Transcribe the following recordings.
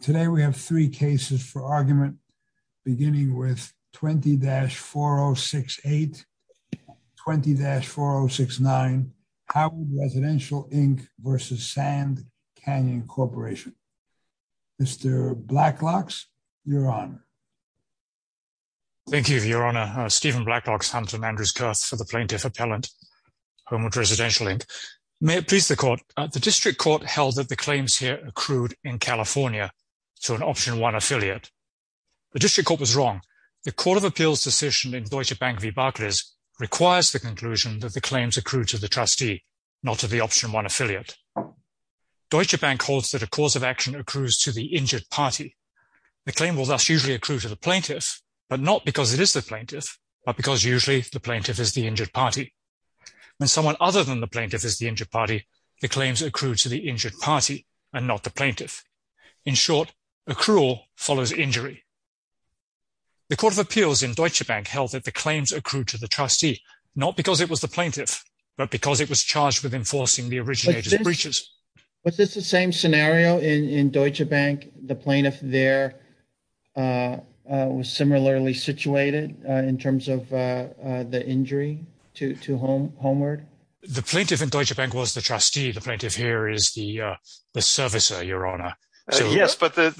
Today we have three cases for argument, beginning with 20-4068, 20-4069, Homeward Residential, Inc. v. Sand Canyon Corporation. Mr. Blacklocks, you're on. Thank you, Your Honor. Stephen Blacklocks, Hunter and Andrews Kurth for the Plaintiff Appellant, Homeward Residential, Inc. May it please the Court, the District Court held that the claims here accrued in California to an Option 1 affiliate. The District Court was wrong. The Court of Appeals decision in Deutsche Bank v. Barclays requires the conclusion that the claims accrued to the trustee, not to the Option 1 affiliate. Deutsche Bank holds that a cause of action accrues to the injured party. The claim will thus usually accrue to the plaintiff, but not because it is the plaintiff, but because usually the plaintiff is the injured party. When someone other than the plaintiff is the injured party, the claims accrue to the injured party and not the plaintiff. In short, accrual follows injury. The Court of Appeals in Deutsche Bank held that the claims accrued to the trustee, not because it was the plaintiff, but because it was charged with enforcing the originated breaches. Was this the same scenario in Deutsche Bank? The plaintiff there was similarly situated in terms of the injury to Homeward? The plaintiff in Deutsche Bank was the trustee. The plaintiff here is the servicer, Your Honor. Yes, but the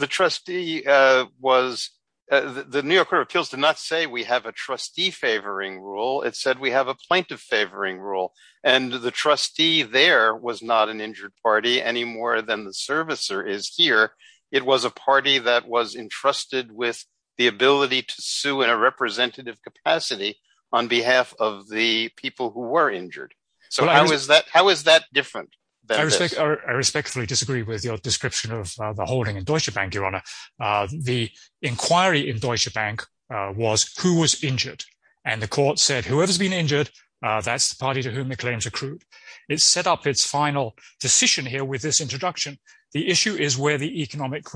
New York Court of Appeals did not say we have a trustee-favoring rule. It said we have a plaintiff-favoring rule. And the trustee there was not an injured party any more than the servicer is here. It was a party that was entrusted with the ability to sue in a representative capacity on behalf of the people who were injured. How is that different? I respectfully disagree with your description of the holding in Deutsche Bank, Your Honor. The inquiry in Deutsche Bank was who was injured, and the court said whoever's been injured, that's the party to whom the claims accrued. It set up its final decision here with this introduction. The issue is where the economic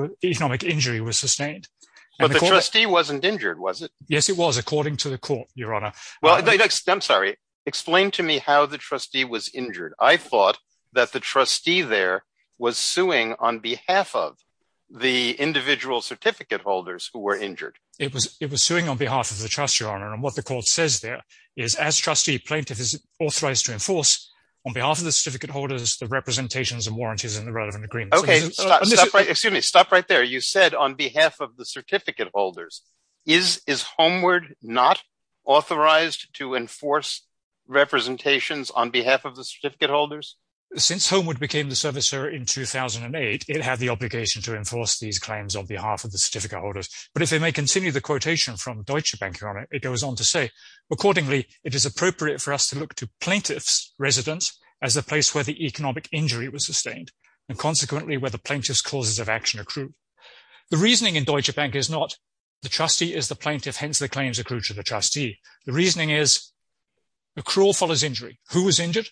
injury was sustained. But the trustee wasn't injured, was it? Yes, it was, according to the court, Your Honor. I'm sorry. Explain to me how the trustee was injured. I thought that the trustee there was suing on behalf of the individual certificate holders who were injured. It was suing on behalf of the trustee, Your Honor. And what the court says there is as trustee, plaintiff is authorized to enforce on behalf of the certificate holders the representations and warranties in the relevant agreement. Excuse me. Stop right there. You said on behalf of the certificate holders. Is Homeward not authorized to enforce representations on behalf of the certificate holders? Since Homeward became the servicer in 2008, it had the obligation to enforce these claims on behalf of the certificate holders. But if I may continue the quotation from Deutsche Bank, Your Honor, it goes on to say, Accordingly, it is appropriate for us to look to plaintiff's residence as the place where the economic injury was sustained and consequently where the plaintiff's causes of action accrue. The reasoning in Deutsche Bank is not the trustee is the plaintiff, hence the claims accrue to the trustee. The reasoning is accrual follows injury. Who was injured?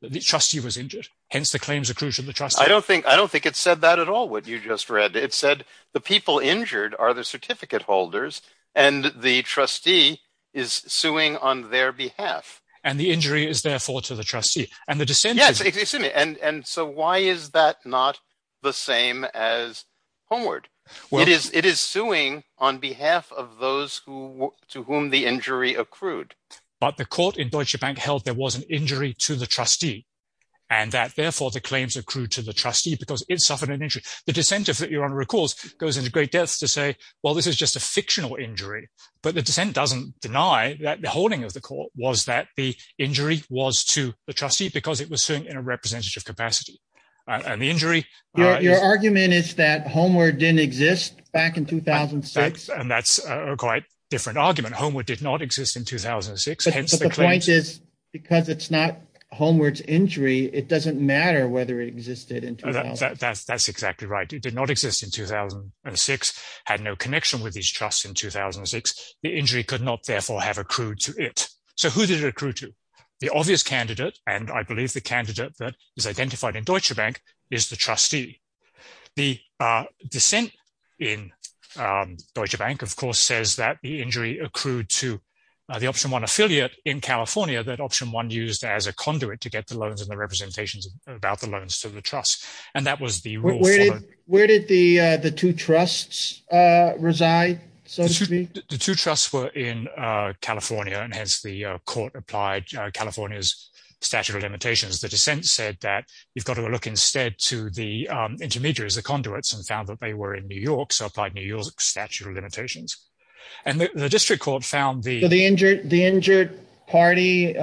The trustee was injured, hence the claims accrue to the trustee. I don't think it said that at all, what you just read. It said the people injured are the certificate holders and the trustee is suing on their behalf. And the injury is therefore to the trustee. Yes, and so why is that not the same as Homeward? It is suing on behalf of those to whom the injury accrued. But the court in Deutsche Bank held there was an injury to the trustee and that therefore the claims accrued to the trustee because it suffered an injury. The dissent, if Your Honor recalls, goes into great depth to say, well, this is just a fictional injury. But the dissent doesn't deny that the holding of the court was that the injury was to the trustee because it was suing in a representative capacity and the injury. Your argument is that Homeward didn't exist back in 2006. And that's a quite different argument. Homeward did not exist in 2006. But the point is, because it's not Homeward's injury, it doesn't matter whether it existed in 2006. That's exactly right. It did not exist in 2006, had no connection with these trusts in 2006. The injury could not therefore have accrued to it. So who did it accrue to? The obvious candidate, and I believe the candidate that is identified in Deutsche Bank is the trustee. The dissent in Deutsche Bank, of course, says that the injury accrued to the Option One affiliate in California that Option One used as a conduit to get the loans and the representations about the loans to the trust. Where did the two trusts reside, so to speak? The two trusts were in California, and hence the court applied California's statute of limitations. The dissent said that you've got to look instead to the intermediaries, the conduits, and found that they were in New York, so applied New York's statute of limitations. So the injured parties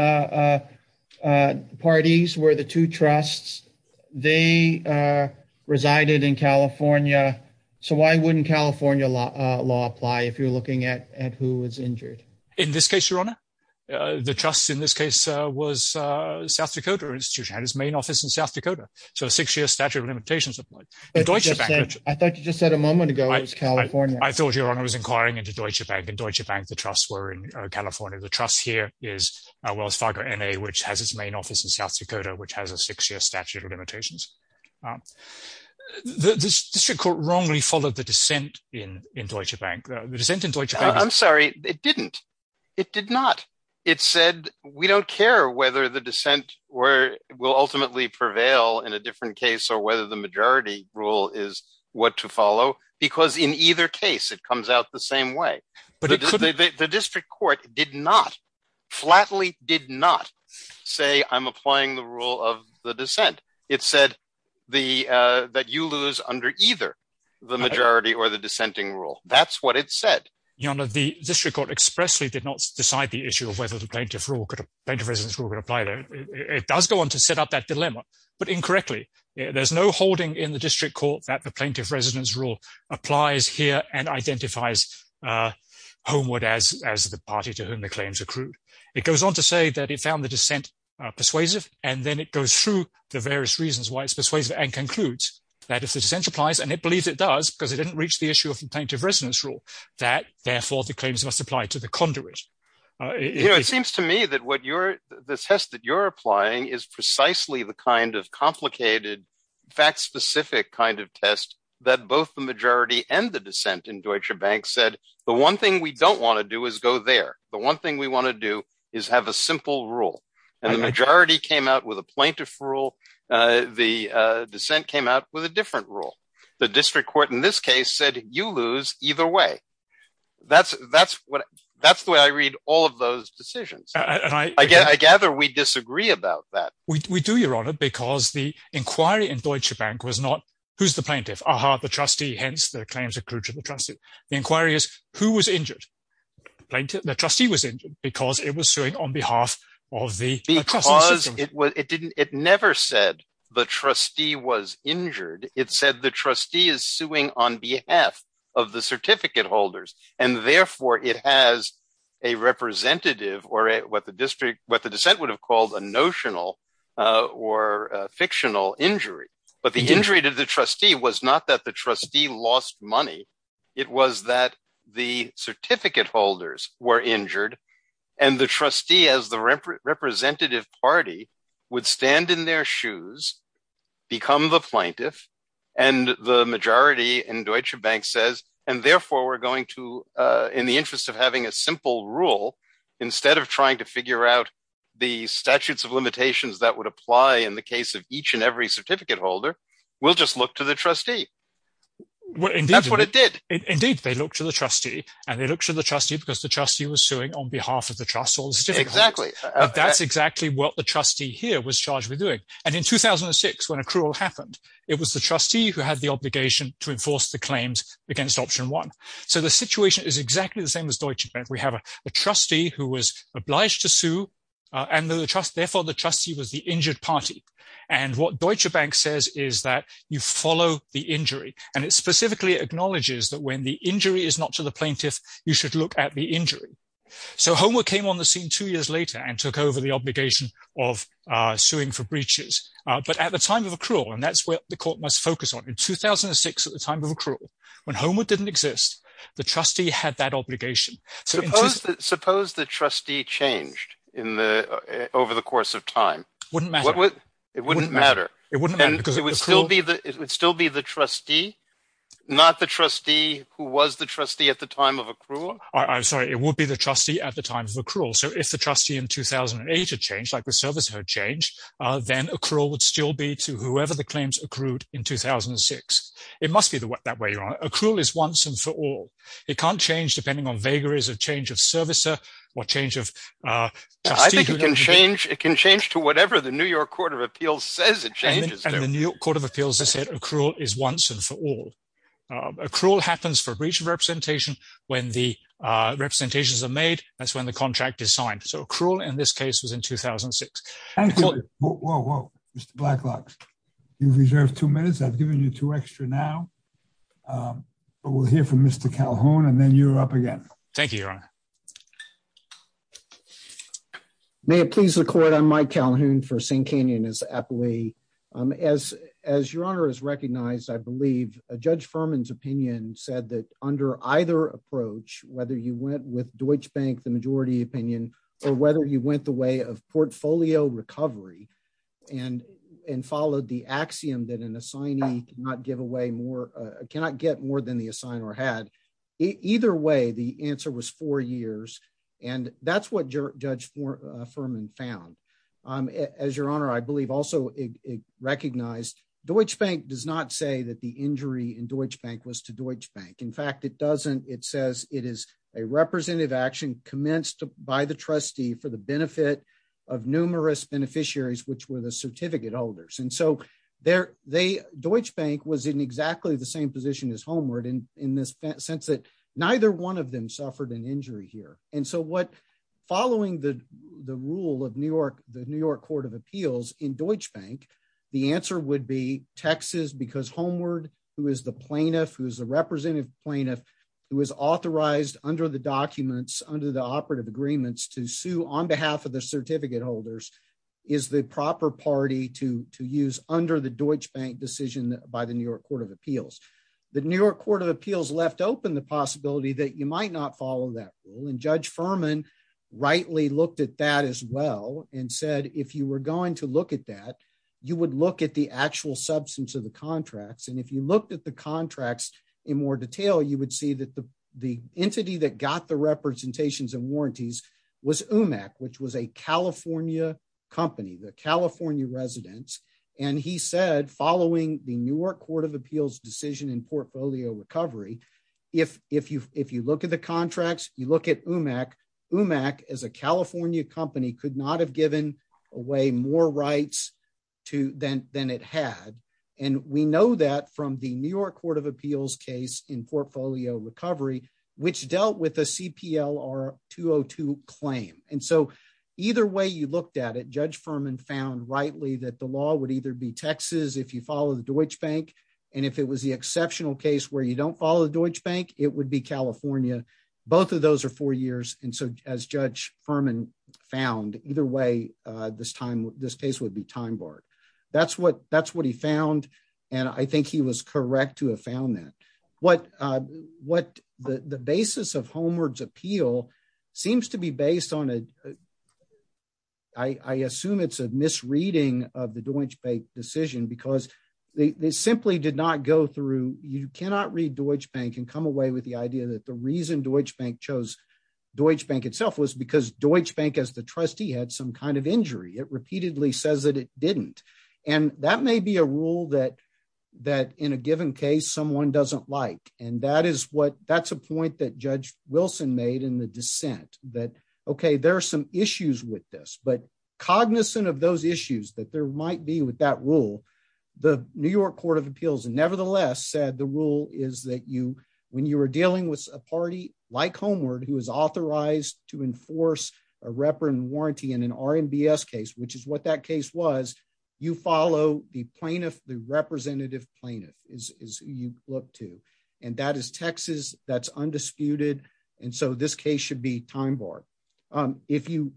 were the two trusts. They resided in California. So why wouldn't California law apply if you're looking at who was injured? In this case, Your Honor, the trust in this case was South Dakota Institution. It had its main office in South Dakota, so a six-year statute of limitations applied. I thought you just said a moment ago it was California. I thought, Your Honor, I was inquiring into Deutsche Bank, and Deutsche Bank, the trusts were in California. The trust here is Wells Fargo N.A., which has its main office in South Dakota, which has a six-year statute of limitations. This district court wrongly followed the dissent in Deutsche Bank. I'm sorry. It didn't. It did not. It said, we don't care whether the dissent will ultimately prevail in a different case or whether the majority rule is what to follow, because in either case, it comes out the same way. The district court did not, flatly did not say, I'm applying the rule of the dissent. It said that you lose under either the majority or the dissenting rule. That's what it said. Your Honor, the district court expressly did not decide the issue of whether the plaintiff residence rule could apply there. It does go on to set up that dilemma, but incorrectly. There's no holding in the district court that the plaintiff residence rule applies here and identifies Homewood as the party to whom the claims accrued. It goes on to say that it found the dissent persuasive, and then it goes through the various reasons why it's persuasive and concludes that if the dissent applies, and it believes it does because it didn't reach the issue of the plaintiff residence rule, that, therefore, the claims must apply to the conduit. It seems to me that the test that you're applying is precisely the kind of complicated, fact-specific kind of test that both the majority and the dissent in Deutsche Bank said, the one thing we don't want to do is go there. The one thing we want to do is have a simple rule. And the majority came out with a plaintiff rule. The dissent came out with a different rule. The district court in this case said, you lose either way. That's the way I read all of those decisions. I gather we disagree about that. We do, Your Honor, because the inquiry in Deutsche Bank was not, who's the plaintiff? Aha, the trustee, hence the claims accrued to the trustee. The inquiry is who was injured? The trustee was injured because it was suing on behalf of the trustee. Because it never said the trustee was injured. It said the trustee is suing on behalf of the certificate holders. And, therefore, it has a representative or what the district, what the dissent would have called a notional or fictional injury. But the injury to the trustee was not that the trustee lost money. It was that the certificate holders were injured. And the trustee, as the representative party, would stand in their shoes, become the plaintiff. And the majority in Deutsche Bank says, and, therefore, we're going to, in the interest of having a simple rule, instead of trying to figure out the statutes of limitations that would apply in the case of each and every certificate holder, we'll just look to the trustee. That's what it did. Indeed, they looked to the trustee, and they looked to the trustee because the trustee was suing on behalf of the trust or the certificate holder. Exactly. That's exactly what the trustee here was charged with doing. And in 2006, when accrual happened, it was the trustee who had the obligation to enforce the claims against option one. So the situation is exactly the same as Deutsche Bank. We have a trustee who was obliged to sue, and, therefore, the trustee was the injured party. And what Deutsche Bank says is that you follow the injury. And it specifically acknowledges that when the injury is not to the plaintiff, you should look at the injury. So Homewood came on the scene two years later and took over the obligation of suing for breaches. But at the time of accrual, and that's what the court must focus on, in 2006, at the time of accrual, when Homewood didn't exist, the trustee had that obligation. Suppose the trustee changed over the course of time. Wouldn't matter. It wouldn't matter. It wouldn't matter because it would still be the trustee, not the trustee who was the trustee at the time of accrual. I'm sorry. It would be the trustee at the time of accrual. So if the trustee in 2008 had changed, like the servicer had changed, then accrual would still be to whoever the claims accrued in 2006. It must be that way, Your Honor. Accrual is once and for all. It can't change depending on vagaries of change of servicer or change of trustee. I think it can change. It can change to whatever the New York Court of Appeals says it changes. And the New York Court of Appeals has said accrual is once and for all. Accrual happens for breach of representation. When the representations are made, that's when the contract is signed. So accrual in this case was in 2006. Whoa, whoa, Mr. Blacklocks. You reserve two minutes. I've given you two extra now. We'll hear from Mr. Calhoun, and then you're up again. Thank you, Your Honor. May it please the court. I'm Mike Calhoun for St. Canyon as the appellee. As Your Honor has recognized, I believe Judge Furman's opinion said that under either approach, whether you went with Deutsche Bank, the majority opinion, or whether you went the way of portfolio recovery and followed the axiom that an assignee cannot give away more, cannot get more than the assign or had. Either way, the answer was four years. And that's what Judge Furman found. As Your Honor, I believe also recognized Deutsche Bank does not say that the injury in Deutsche Bank was to Deutsche Bank. In fact, it doesn't. It says it is a representative action commenced by the trustee for the benefit of numerous beneficiaries, which were the certificate holders. And so Deutsche Bank was in exactly the same position as Homeward in this sense that neither one of them suffered an injury here. And so following the rule of the New York Court of Appeals in Deutsche Bank, the answer would be Texas because Homeward, who is the plaintiff, who is the representative plaintiff, who is authorized under the documents, under the operative agreements to sue on behalf of the certificate holders, is the proper party to use under the Deutsche Bank decision by the New York Court of Appeals. The New York Court of Appeals left open the possibility that you might not follow that rule. And Judge Furman rightly looked at that as well and said, if you were going to look at that, you would look at the actual substance of the contracts. And if you looked at the contracts in more detail, you would see that the entity that got the representations and warranties was UMAC, which was a California company, the California residence. And he said, following the New York Court of Appeals decision in portfolio recovery, if you look at the contracts, you look at UMAC, UMAC as a California company could not have given away more rights than it had. And we know that from the New York Court of Appeals case in portfolio recovery, which dealt with a CPLR 202 claim. And so either way you looked at it, Judge Furman found rightly that the law would either be Texas if you follow the Deutsche Bank. And if it was the exceptional case where you don't follow the Deutsche Bank, it would be California. Both of those are four years. And so as Judge Furman found, either way, this case would be time barred. That's what he found. And I think he was correct to have found that. What the basis of Homeward's appeal seems to be based on, I assume it's a misreading of the Deutsche Bank decision because they simply did not go through. You cannot read Deutsche Bank and come away with the idea that the reason Deutsche Bank chose Deutsche Bank itself was because Deutsche Bank as the trustee had some kind of injury. It repeatedly says that it didn't. And that may be a rule that that in a given case someone doesn't like. And that is what that's a point that Judge Wilson made in the dissent that, OK, there are some issues with this, but cognizant of those issues that there might be with that rule. The New York Court of Appeals, nevertheless, said the rule is that you when you are dealing with a party like Homeward, who is authorized to enforce a reprimand warranty in an RMBS case, which is what that case was, you follow the plaintiff. The representative plaintiff is you look to and that is Texas. That's undisputed. And so this case should be time barred. If you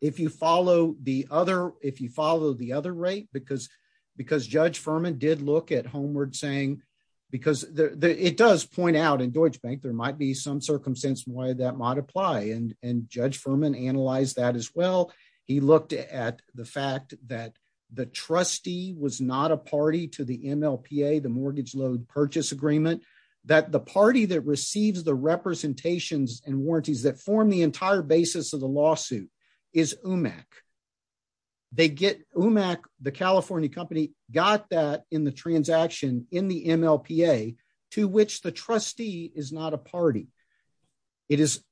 if you follow the other if you follow the other rate, because because Judge Furman did look at Homeward saying because it does point out in Deutsche Bank, there might be some circumstance why that might apply. And and Judge Furman analyzed that as well. He looked at the fact that the trustee was not a party to the MLPA, the Mortgage Load Purchase Agreement, that the party that receives the representations and warranties that form the entire basis of the lawsuit is UMAC. They get UMAC, the California company, got that in the transaction in the MLPA to which the trustee is not a party. It is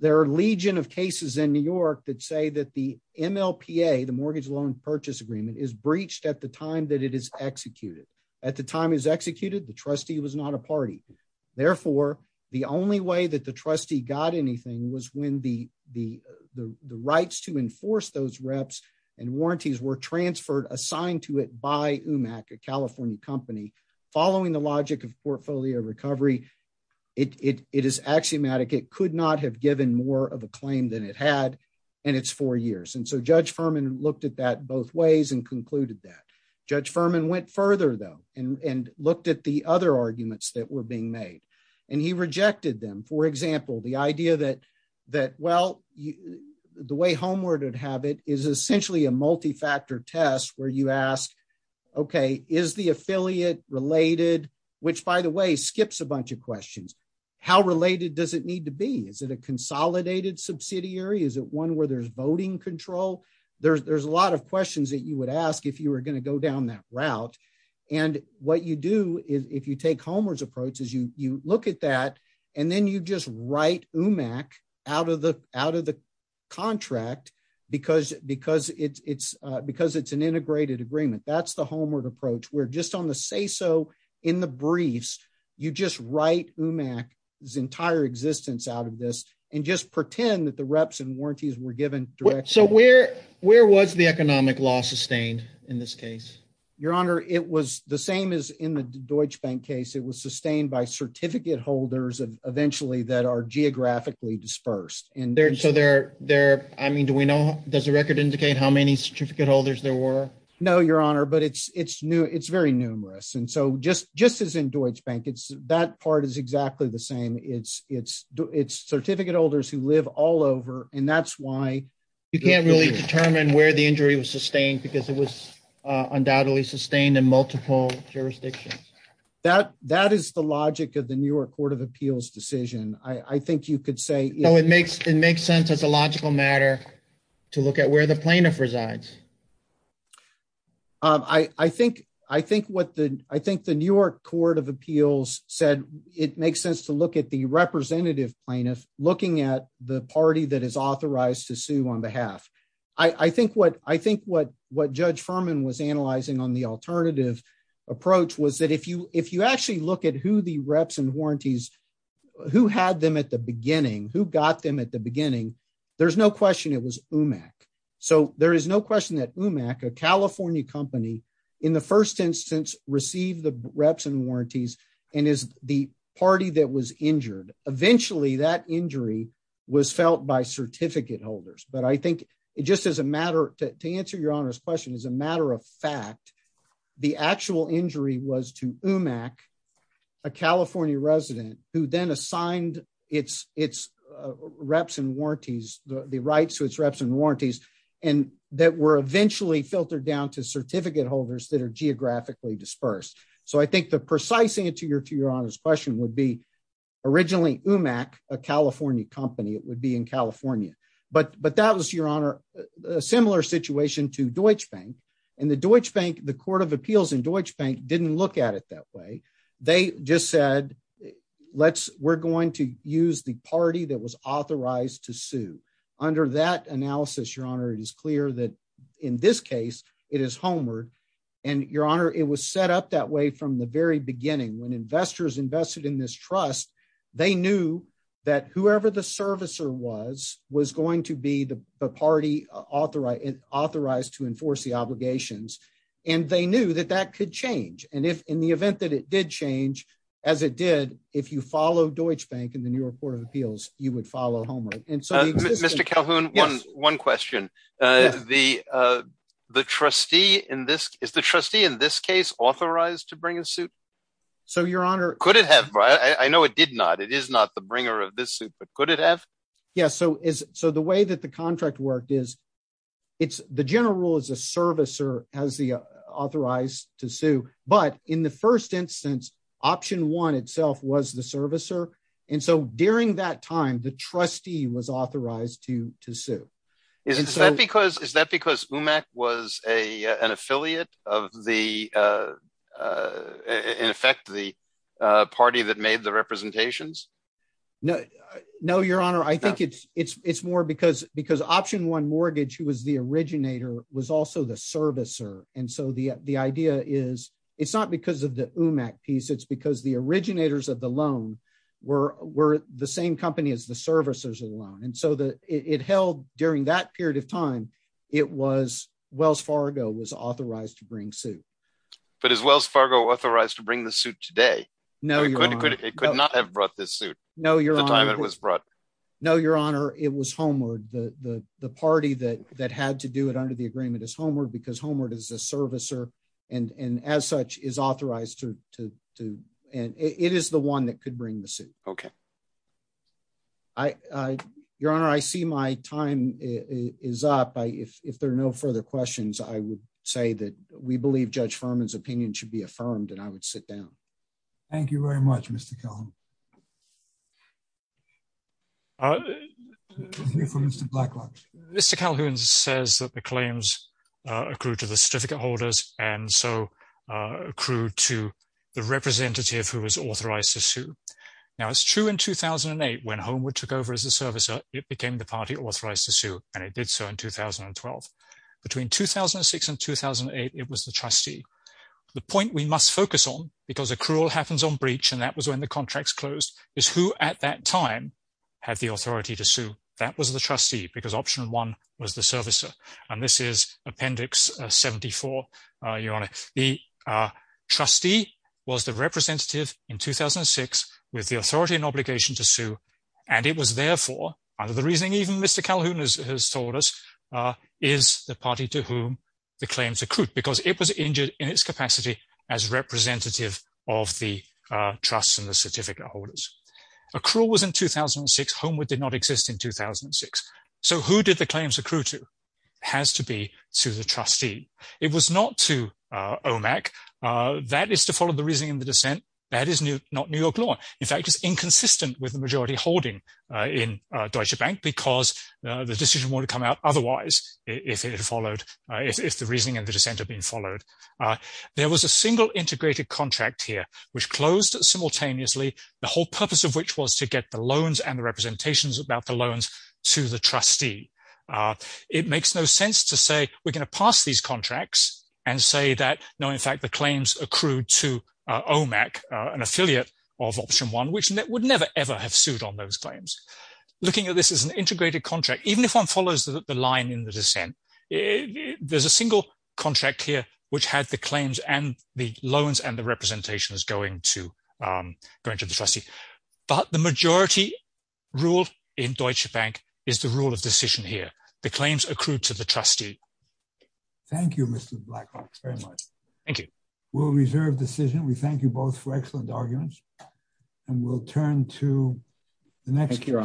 their legion of cases in New York that say that the MLPA, the Mortgage Loan Purchase Agreement, is breached at the time that it is executed. At the time is executed, the trustee was not a party. Therefore, the only way that the trustee got anything was when the the the rights to enforce those reps and warranties were transferred assigned to it by UMAC, a California company. Following the logic of portfolio recovery, it is axiomatic it could not have given more of a claim than it had in its four years. And so Judge Furman looked at that both ways and concluded that. Judge Furman went further, though, and looked at the other arguments that were being made, and he rejected them. For example, the idea that, well, the way homeward would have it is essentially a multi-factor test where you ask, okay, is the affiliate related? Which, by the way, skips a bunch of questions. How related does it need to be? Is it a consolidated subsidiary? Is it one where there's voting control? There's a lot of questions that you would ask if you were going to go down that route. And what you do is, if you take homeward's approach, is you look at that, and then you just write UMAC out of the contract because it's an integrated agreement. That's the homeward approach, where just on the say-so in the briefs, you just write UMAC's entire existence out of this and just pretend that the reps and warranties were given directly. So where was the economic law sustained in this case? Your Honor, it was the same as in the Deutsche Bank case. It was sustained by certificate holders, eventually, that are geographically dispersed. I mean, does the record indicate how many certificate holders there were? No, Your Honor, but it's very numerous. And so just as in Deutsche Bank, that part is exactly the same. It's certificate holders who live all over, and that's why. You can't really determine where the injury was sustained because it was undoubtedly sustained in multiple jurisdictions. That is the logic of the New York Court of Appeals decision. I think you could say. It makes sense as a logical matter to look at where the plaintiff resides. I think what the New York Court of Appeals said, it makes sense to look at the representative plaintiff looking at the party that is authorized to sue on behalf. I think what Judge Furman was analyzing on the alternative approach was that if you actually look at who the reps and warranties, who had them at the beginning, who got them at the beginning, there's no question it was UMAC. So there is no question that UMAC, a California company, in the first instance received the reps and warranties and is the party that was injured. Eventually, that injury was felt by certificate holders. But I think it just as a matter to answer Your Honor's question, as a matter of fact, the actual injury was to UMAC, a California resident who then assigned its reps and warranties, the rights to its reps and warranties, and that were eventually filtered down to certificate holders that are geographically dispersed. So I think the precise answer to Your Honor's question would be originally UMAC, a California company, it would be in California. But that was, Your Honor, a similar situation to Deutsche Bank. And the Deutsche Bank, the Court of Appeals in Deutsche Bank didn't look at it that way. They just said, we're going to use the party that was authorized to sue. Under that analysis, Your Honor, it is clear that in this case, it is Homer. And Your Honor, it was set up that way from the very beginning. When investors invested in this trust, they knew that whoever the servicer was, was going to be the party authorized to enforce the obligations. And they knew that that could change. And if in the event that it did change, as it did, if you follow Deutsche Bank in the New York Court of Appeals, you would follow Homer. Mr. Calhoun, one question. Is the trustee in this case authorized to bring a suit? So Your Honor... Could it have? I know it did not. It is not the bringer of this suit, but could it have? Yes. So the way that the contract worked is, the general rule is a servicer has the authorized to sue. But in the first instance, option one itself was the servicer. And so during that time, the trustee was authorized to sue. Is that because UMAC was an affiliate of the, in effect, the party that made the representations? No, Your Honor. I think it's more because option one mortgage, who was the originator, was also the servicer. And so the idea is, it's not because of the UMAC piece, it's because the originators of the loan were the same company as the servicers of the loan. And so it held during that period of time, it was Wells Fargo was authorized to bring suit. But is Wells Fargo authorized to bring the suit today? No, Your Honor. It could not have brought this suit. No, Your Honor. At the time it was brought. No, Your Honor. It was Homeward. The party that had to do it under the agreement is Homeward because Homeward is a servicer, and as such is authorized to, and it is the one that could bring the suit. Okay. Your Honor, I see my time is up. If there are no further questions, I would say that we believe Judge Furman's opinion should be affirmed, and I would sit down. Thank you very much, Mr Calhoun. Mr Calhoun says that the claims accrued to the certificate holders, and so accrued to the representative who was authorized to sue. Now it's true in 2008 when Homeward took over as a servicer, it became the party authorized to sue, and it did so in 2012. Between 2006 and 2008, it was the trustee. The point we must focus on, because accrual happens on breach, and that was when the contracts closed, is who at that time had the authority to sue. That was the trustee because option one was the servicer, and this is Appendix 74, Your Honor. The trustee was the representative in 2006 with the authority and obligation to sue, and it was therefore, under the reasoning even Mr Calhoun has told us, is the party to whom the claims accrued because it was injured in its capacity as representative of the trust and the certificate holders. Accrual was in 2006. Homeward did not exist in 2006. So who did the claims accrue to? It has to be to the trustee. It was not to OMAC. That is to follow the reasoning and the dissent. That is not New York law. In fact, it's inconsistent with the majority holding in Deutsche Bank because the decision wouldn't have come out otherwise if the reasoning and the dissent had been followed. There was a single integrated contract here which closed simultaneously, the whole purpose of which was to get the loans and the representations about the loans to the trustee. It makes no sense to say we're going to pass these contracts and say that, no, in fact, the claims accrued to OMAC, an affiliate of option one, which would never, ever have sued on those claims. Looking at this as an integrated contract, even if one follows the line in the dissent, there's a single contract here which had the claims and the loans and the representations going to the trustee. But the majority rule in Deutsche Bank is the rule of decision here. The claims accrued to the trustee. Thank you, Mr. Blackrock, very much. Thank you. We'll reserve decision. We thank you both for excellent arguments and we'll turn to the next question.